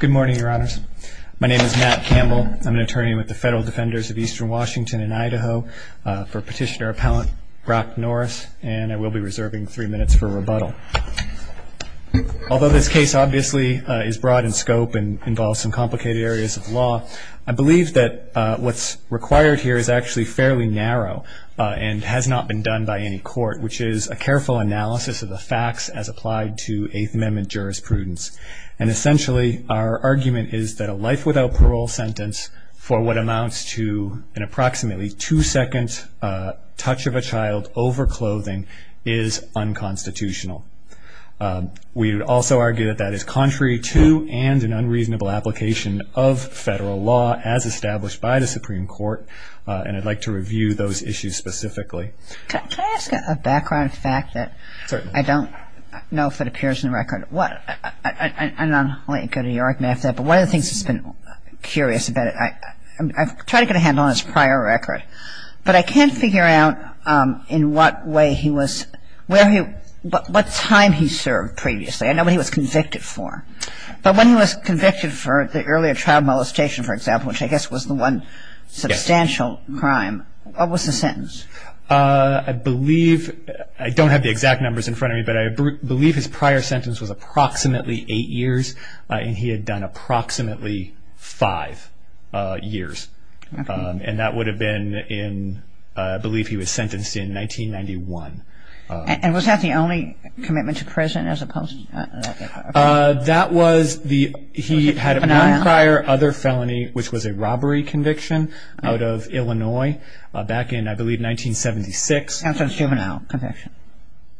Good morning, Your Honors. My name is Matt Campbell. I'm an attorney with the Federal Defenders of Eastern Washington and Idaho for Petitioner-Appellant Brach Norris, and I will be reserving three minutes for rebuttal. Although this case obviously is broad in scope and involves some complicated areas of law, I believe that what's required here is actually fairly narrow and has not been done by any court, which is a careful analysis of the facts as applied to Eighth Amendment jurisprudence. And essentially, our argument is that a life without parole sentence for what amounts to an approximately two-second touch of a child over clothing is unconstitutional. We would also argue that that is contrary to and an unreasonable application of federal law as established by the Supreme Court, and I'd like to review those issues specifically. Can I ask a background fact that I don't know if it appears in the record? I'll let you go to your argument after that, but one of the things that's been curious about it, I've tried to get a handle on his prior record, but I can't figure out in what way he was, what time he served previously. I know what he was convicted for, but when he was convicted for the earlier child molestation, for example, which I guess was the one substantial crime, what was the sentence? I believe, I don't have the exact numbers in front of me, but I believe his prior sentence was approximately eight years, and he had done approximately five years, and that would have been in, I believe he was sentenced in 1991. And was that the only commitment to prison as opposed to? That was the, he had one prior other felony, which was a robbery conviction out of Illinois back in, I believe, 1976. That's a juvenile conviction.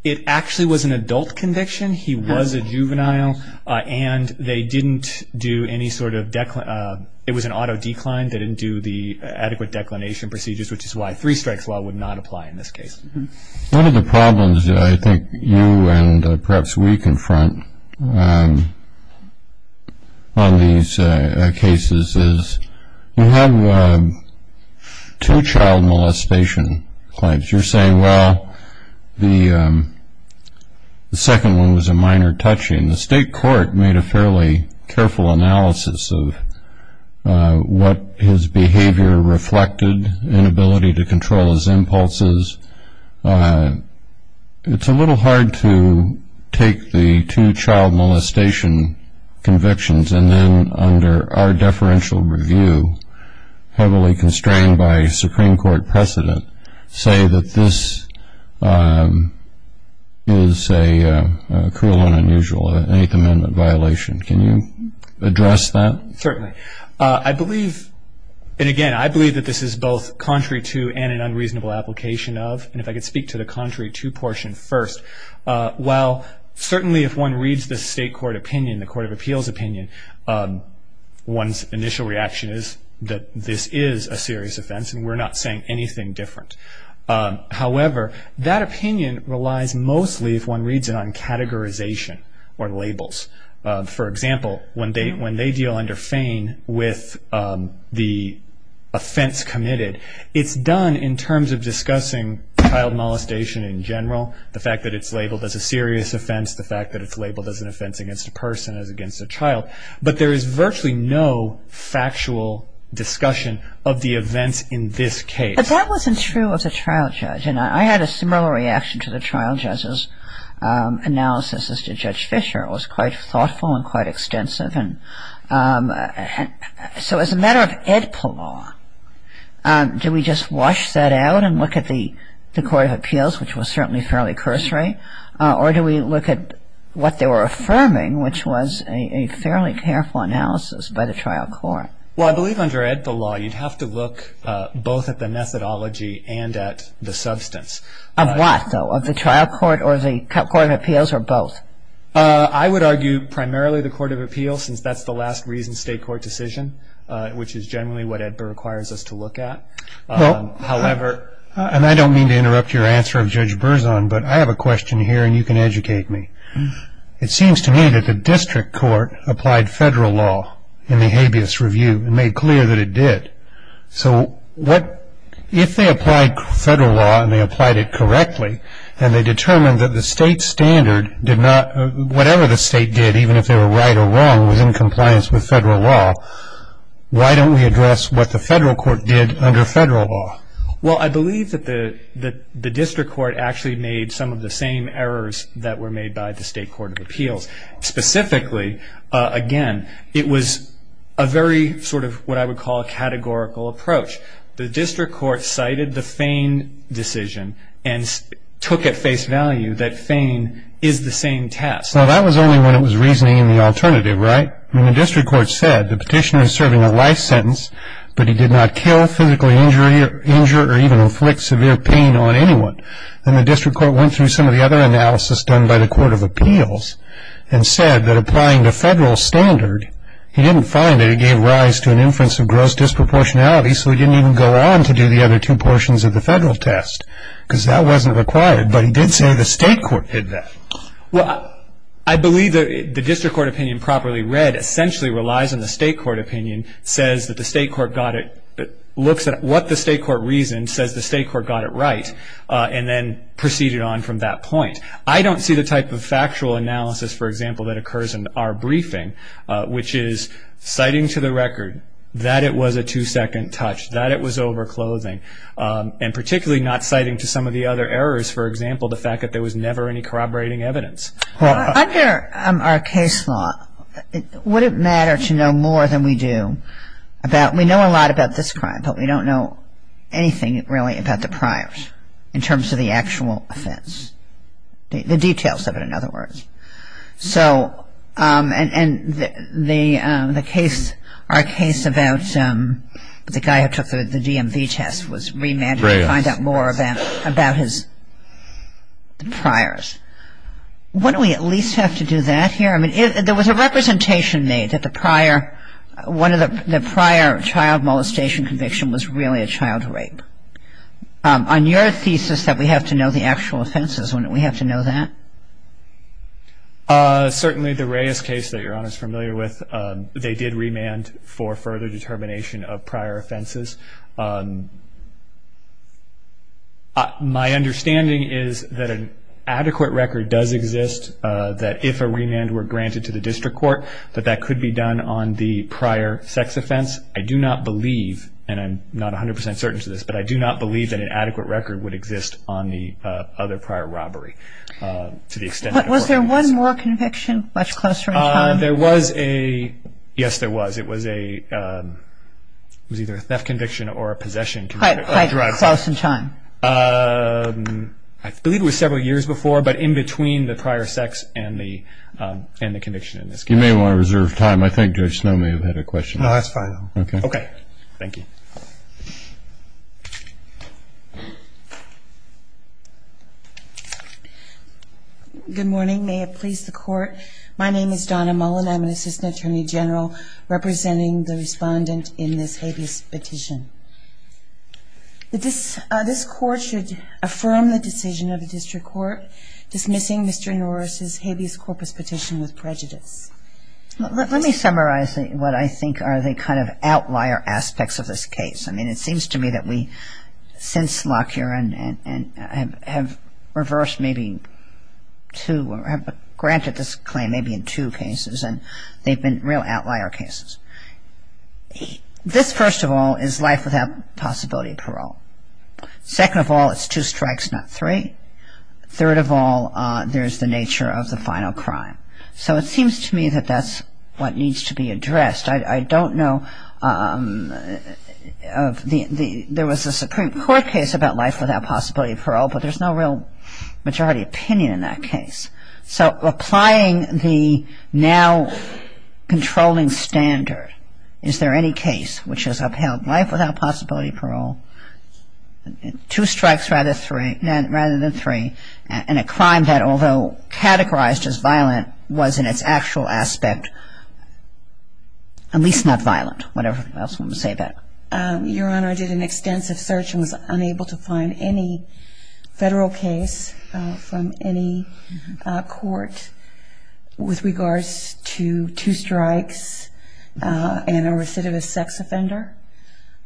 It actually was an adult conviction. He was a juvenile, and they didn't do any sort of, it was an auto decline. They didn't do the adequate declination procedures, which is why three strikes law would not apply in this case. One of the problems I think you and perhaps we confront on these cases is you have two child molestation claims. You're saying, well, the second one was a minor touching. The state court made a fairly careful analysis of what his behavior reflected, inability to control his impulses. It's a little hard to take the two child molestation convictions and then under our deferential review, heavily constrained by Supreme Court precedent, say that this is a cruel and unusual Eighth Amendment violation. Can you address that? Certainly. I believe, and again, I believe that this is both contrary to and an unreasonable application of, and if I could speak to the contrary to portion first. While certainly if one reads the state court opinion, the court of appeals opinion, one's initial reaction is that this is a serious offense, and we're not saying anything different. However, that opinion relies mostly, if one reads it, on categorization or labels. For example, when they deal under feign with the offense committed, it's done in terms of discussing child molestation in general, the fact that it's labeled as a serious offense, the fact that it's labeled as an offense against a person, as against a child, but there is virtually no factual discussion of the events in this case. But that wasn't true of the trial judge, and I had a similar reaction to the trial judge's analysis as to Judge Fisher. It was quite thoughtful and quite extensive. So as a matter of AEDPA law, do we just wash that out and look at the court of appeals, which was certainly fairly cursory, or do we look at what they were affirming, which was a fairly careful analysis by the trial court? Well, I believe under AEDPA law, you'd have to look both at the methodology and at the substance. Of what, though? Of the trial court or the court of appeals or both? I would argue primarily the court of appeals, since that's the last reason state court decision, which is generally what AEDPA requires us to look at. However, and I don't mean to interrupt your answer of Judge Berzon, but I have a question here, and you can educate me. It seems to me that the district court applied federal law in the habeas review and made clear that it did. So if they applied federal law and they applied it correctly, and they determined that the state standard did not, whatever the state did, even if they were right or wrong, was in compliance with federal law, why don't we address what the federal court did under federal law? Well, I believe that the district court actually made some of the same errors that were made by the state court of appeals. Specifically, again, it was a very sort of what I would call a categorical approach. The district court cited the Fein decision and took at face value that Fein is the same test. Now, that was only when it was reasoning in the alternative, right? I mean, the district court said the petitioner is serving a life sentence, but he did not kill, physically injure, or even inflict severe pain on anyone. And the district court went through some of the other analysis done by the court of appeals and said that applying the federal standard, he didn't find that it gave rise to an inference of gross disproportionality, so he didn't even go on to do the other two portions of the federal test because that wasn't required. But he did say the state court did that. Well, I believe the district court opinion properly read essentially relies on the state court opinion, says that the state court got it, looks at what the state court reasoned, says the state court got it right, and then proceeded on from that point. I don't see the type of factual analysis, for example, that occurs in our briefing, which is citing to the record that it was a two-second touch, that it was overclothing, and particularly not citing to some of the other errors, for example, the fact that there was never any corroborating evidence. Well, under our case law, would it matter to know more than we do about we know a lot about this crime, but we don't know anything really about the priors in terms of the actual offense, the details of it, in other words. So and the case, our case about the guy who took the DMV test was remanded to find out more about his priors. Wouldn't we at least have to do that here? I mean, there was a representation made that the prior, one of the prior child molestation conviction was really a child rape. On your thesis that we have to know the actual offenses, wouldn't we have to know that? Certainly the Reyes case that Your Honor is familiar with, they did remand for further determination of prior offenses. My understanding is that an adequate record does exist that if a remand were granted to the district court, that that could be done on the prior sex offense. I do not believe, and I'm not 100 percent certain to this, but I do not believe that an adequate record would exist on the other prior robbery. Was there one more conviction much closer in time? Yes, there was. It was either a theft conviction or a possession. Quite close in time. I believe it was several years before, but in between the prior sex and the conviction in this case. You may want to reserve time. I think Judge Snow may have had a question. No, that's fine. Okay, thank you. Good morning. May it please the court. My name is Donna Mullen. I'm an assistant attorney general representing the respondent in this habeas petition. This court should affirm the decision of the district court dismissing Mr. Norris' habeas corpus petition with prejudice. Let me summarize what I think are the kind of outlier aspects of this case. I mean, it seems to me that we, since Lockyer, have reversed maybe two or have granted this claim maybe in two cases, and they've been real outlier cases. This, first of all, is life without possibility of parole. Second of all, it's two strikes, not three. Third of all, there's the nature of the final crime. So it seems to me that that's what needs to be addressed. I don't know of the – there was a Supreme Court case about life without possibility of parole, but there's no real majority opinion in that case. So applying the now controlling standard, is there any case which has upheld life without possibility of parole, two strikes rather than three, and a crime that, although categorized as violent, was in its actual aspect at least not violent, whatever else you want to say about it? Your Honor, I did an extensive search and was unable to find any federal case from any court with regards to two strikes and a recidivist sex offender.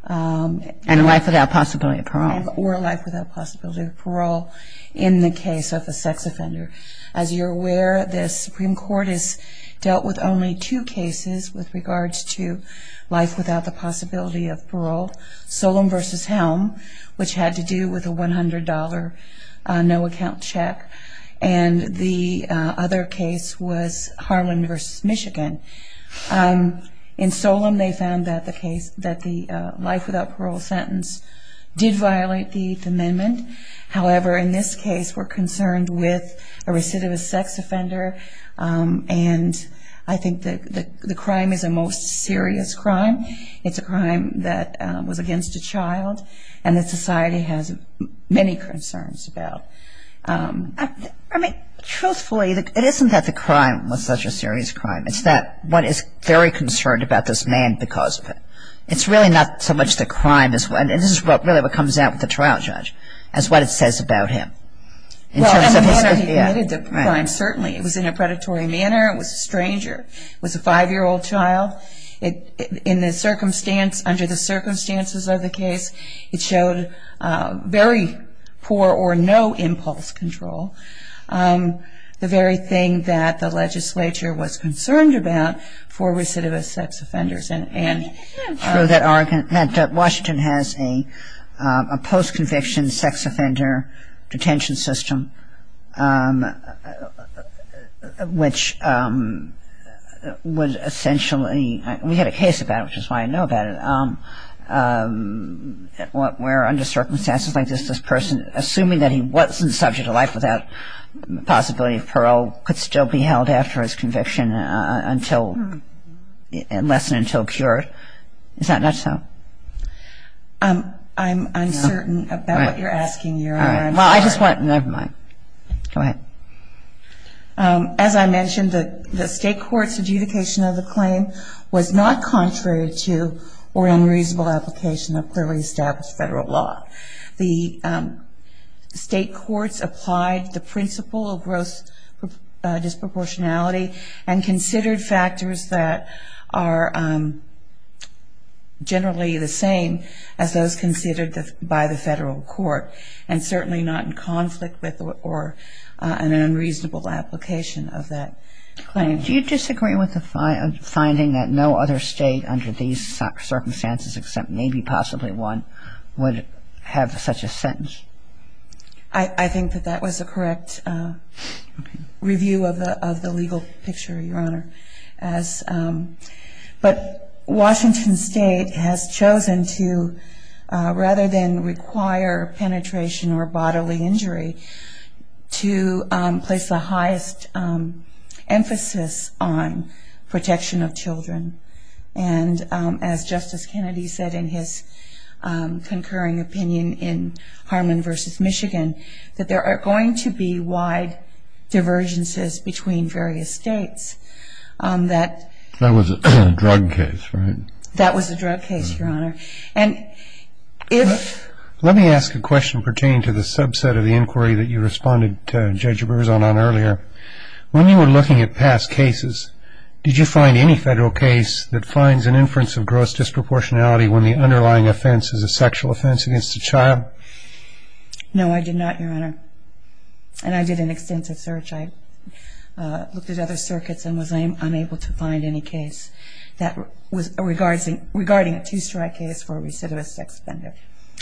And life without possibility of parole. Or life without possibility of parole in the case of a sex offender. As you're aware, the Supreme Court has dealt with only two cases with regards to life without the possibility of parole, Solem v. Helm, which had to do with a $100 no-account check, and the other case was Harlan v. Michigan. In Solem, they found that the life without parole sentence did violate the Eighth Amendment. However, in this case, we're concerned with a recidivist sex offender, and I think that the crime is a most serious crime. It's a crime that was against a child and that society has many concerns about. I mean, truthfully, it isn't that the crime was such a serious crime. It's that one is very concerned about this man because of it. It's really not so much the crime, and this is really what comes out with the trial judge, as what it says about him. Well, in the manner he committed the crime, certainly. It was in a predatory manner. It was a stranger. It was a five-year-old child. In the circumstance, under the circumstances of the case, it showed very poor or no impulse control, the very thing that the legislature was concerned about for recidivist sex offenders. I mean, it's true that Washington has a post-conviction sex offender detention system, which would essentially, we had a case about it, which is why I know about it, where under circumstances like this, this person, assuming that he wasn't subject to life without the possibility of parole, could still be held after his conviction unless and until cured. Is that not so? Never mind. Go ahead. As I mentioned, the state court's adjudication of the claim was not contrary to or unreasonable application of clearly established federal law. The state courts applied the principle of gross disproportionality and considered factors that are generally the same as those considered by the federal court and certainly not in conflict with or an unreasonable application of that claim. Do you disagree with the finding that no other state under these circumstances except maybe possibly one would have such a sentence? I think that that was a correct review of the legal picture, Your Honor. But Washington State has chosen to, rather than require penetration or bodily injury, to place the highest emphasis on protection of children. And as Justice Kennedy said in his concurring opinion in Harmon v. Michigan, that there are going to be wide divergences between various states. That was a drug case, right? That was a drug case, Your Honor. Let me ask a question pertaining to the subset of the inquiry that you responded to Judge Rivers on earlier. When you were looking at past cases, did you find any federal case that finds an inference of gross disproportionality when the underlying offense is a sexual offense against a child? No, I did not, Your Honor. And I did an extensive search. I looked at other circuits and was unable to find any case that was regarding a two-strike case for a recidivist sex offender.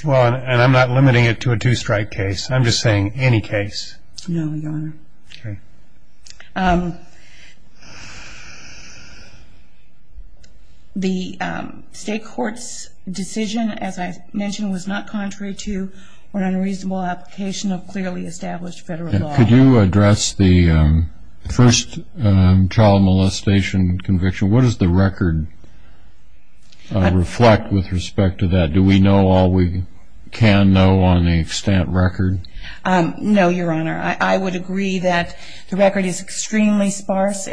Well, and I'm not limiting it to a two-strike case. I'm just saying any case. No, Your Honor. Okay. The state court's decision, as I mentioned, was not contrary to an unreasonable application of clearly established federal law. Could you address the first child molestation conviction? What does the record reflect with respect to that? Do we know all we can know on a stamp record? No, Your Honor. I would agree that the record is extremely sparse,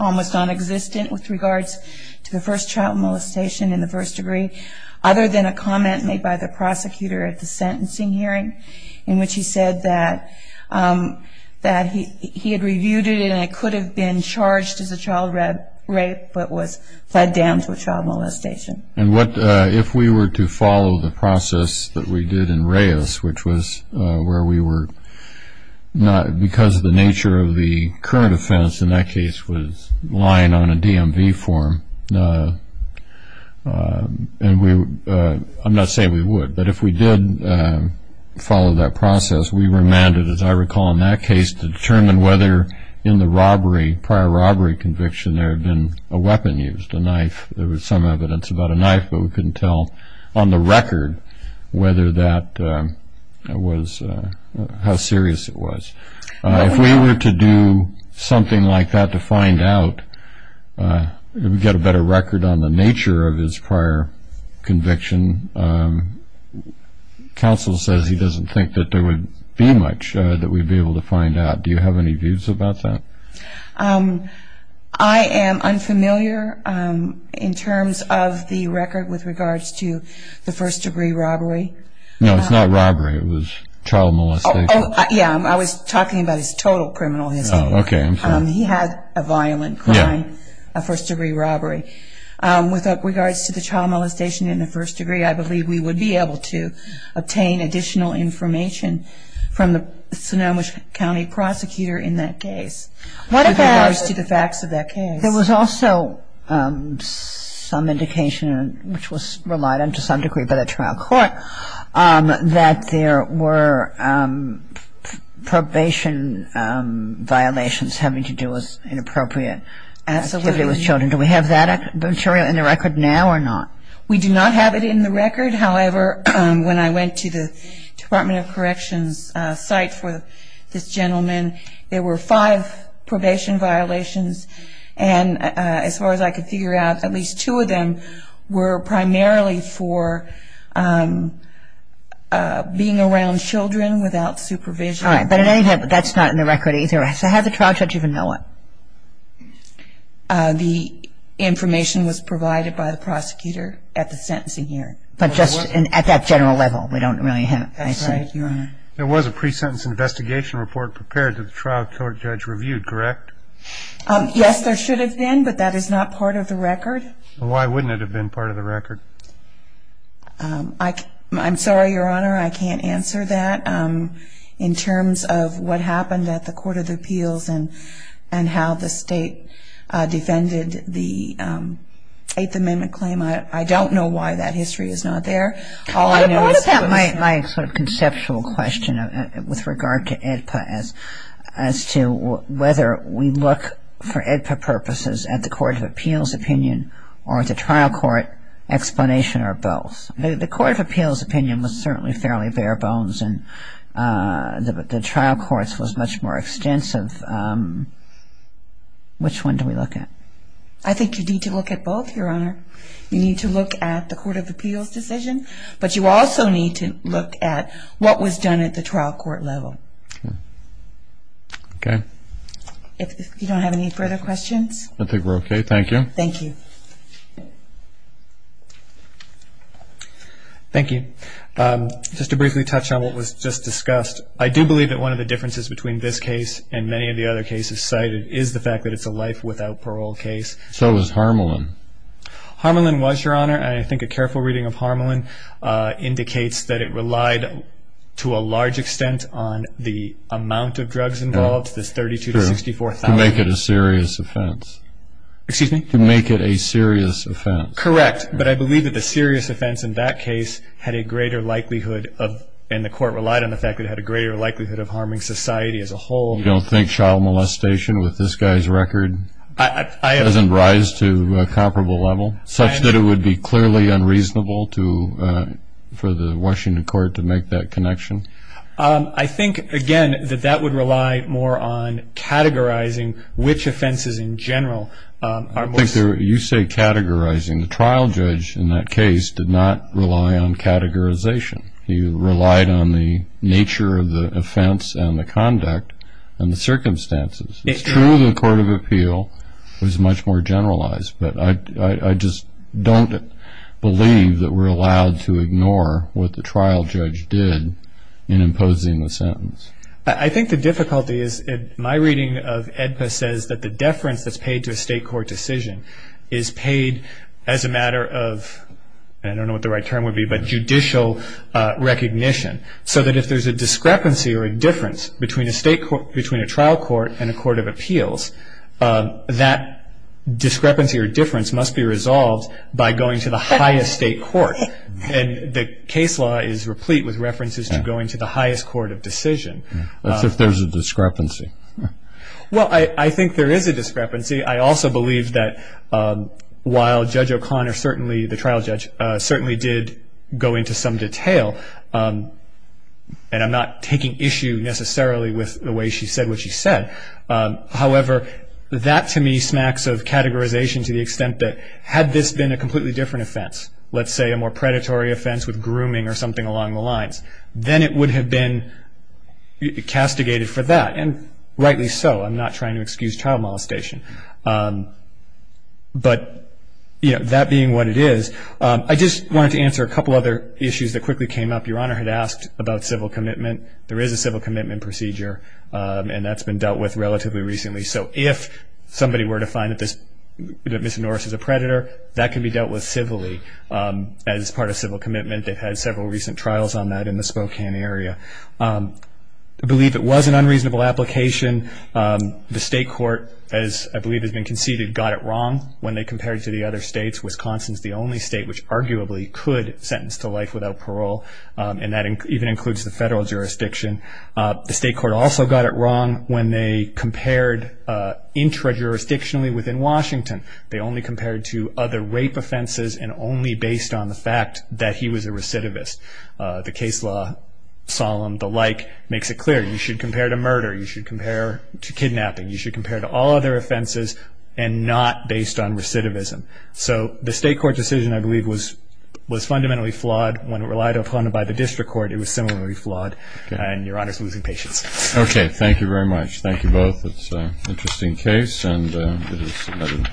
almost nonexistent with regards to the first child molestation in the first degree, other than a comment made by the prosecutor at the sentencing hearing in which he said that he had reviewed it and it could have been charged as a child rape but was fed down to a child molestation. And if we were to follow the process that we did in Reyes, which was where we were not because of the nature of the current offense, and that case was lying on a DMV form, and I'm not saying we would, but if we did follow that process, we were mandated, as I recall in that case, to determine whether in the robbery, prior robbery conviction, there had been a weapon used, a knife. There was some evidence about a knife, but we couldn't tell on the record whether that was, how serious it was. If we were to do something like that to find out, get a better record on the nature of his prior conviction, counsel says he doesn't think that there would be much that we'd be able to find out. Do you have any views about that? I am unfamiliar in terms of the record with regards to the first-degree robbery. No, it's not robbery. It was child molestation. Yeah, I was talking about his total criminal history. Oh, okay, I'm sorry. He had a violent crime, a first-degree robbery. With regards to the child molestation in the first degree, I believe we would be able to obtain additional information from the Sonoma County prosecutor in that case. With regards to the facts of that case. There was also some indication, which was relied on to some degree by the trial court, that there were probation violations having to do with inappropriate activity with children. Do we have that material in the record now or not? We do not have it in the record. However, when I went to the Department of Corrections site for this gentleman, there were five probation violations. And as far as I could figure out, at least two of them were primarily for being around children without supervision. All right, but that's not in the record either. So how did the trial judge even know it? The information was provided by the prosecutor at the sentencing hearing. But just at that general level, we don't really have it. That's right, Your Honor. There was a pre-sentence investigation report prepared that the trial court judge reviewed, correct? Yes, there should have been, but that is not part of the record. Why wouldn't it have been part of the record? I'm sorry, Your Honor, I can't answer that. In terms of what happened at the Court of Appeals and how the state defended the Eighth Amendment claim, I don't know why that history is not there. I thought about my sort of conceptual question with regard to AEDPA as to whether we look for AEDPA purposes at the Court of Appeals opinion or the trial court explanation or both. The Court of Appeals opinion was certainly fairly bare bones, and the trial court's was much more extensive. Which one do we look at? I think you need to look at both, Your Honor. You need to look at the Court of Appeals decision, but you also need to look at what was done at the trial court level. Okay. If you don't have any further questions? I think we're okay. Thank you. Thank you. Thank you. Just to briefly touch on what was just discussed, I do believe that one of the differences between this case and many of the other cases cited is the fact that it's a life without parole case. So is Harmelin. Harmelin was, Your Honor, and I think a careful reading of Harmelin indicates that it relied to a large extent on the amount of drugs involved, this 32 to 64,000. To make it a serious offense. Excuse me? To make it a serious offense. Correct. But I believe that the serious offense in that case had a greater likelihood of, and the Court relied on the fact that it had a greater likelihood of harming society as a whole. You don't think child molestation with this guy's record? Doesn't rise to a comparable level? Such that it would be clearly unreasonable for the Washington Court to make that connection? I think, again, that that would rely more on categorizing which offenses in general are most. You say categorizing. The trial judge in that case did not rely on categorization. He relied on the nature of the offense and the conduct and the circumstances. It's true the Court of Appeal was much more generalized, but I just don't believe that we're allowed to ignore what the trial judge did in imposing the sentence. I think the difficulty is my reading of AEDPA says that the deference that's paid to a state court decision is paid as a matter of, I don't know what the right term would be, but judicial recognition. So that if there's a discrepancy or a difference between a trial court and a court of appeals, that discrepancy or difference must be resolved by going to the highest state court. And the case law is replete with references to going to the highest court of decision. That's if there's a discrepancy. Well, I think there is a discrepancy. I also believe that while Judge O'Connor certainly, the trial judge, certainly did go into some detail, and I'm not taking issue necessarily with the way she said what she said, however that to me smacks of categorization to the extent that had this been a completely different offense, let's say a more predatory offense with grooming or something along the lines, then it would have been castigated for that. And rightly so. I'm not trying to excuse child molestation. But that being what it is, I just wanted to answer a couple other issues that quickly came up. Your Honor had asked about civil commitment. There is a civil commitment procedure, and that's been dealt with relatively recently. So if somebody were to find that Ms. Norris is a predator, that can be dealt with civilly as part of civil commitment. They've had several recent trials on that in the Spokane area. I believe it was an unreasonable application. The state court, as I believe has been conceded, got it wrong when they compared it to the other states. Wisconsin is the only state which arguably could sentence to life without parole, and that even includes the federal jurisdiction. The state court also got it wrong when they compared intra-jurisdictionally within Washington. They only compared to other rape offenses and only based on the fact that he was a recidivist. The case law, solemn, the like, makes it clear. You should compare to murder. You should compare to kidnapping. You should compare to all other offenses and not based on recidivism. So the state court decision, I believe, was fundamentally flawed. When it relied upon it by the district court, it was similarly flawed. And Your Honor is losing patience. Okay, thank you very much. Thank you both. It's an interesting case, and it is another.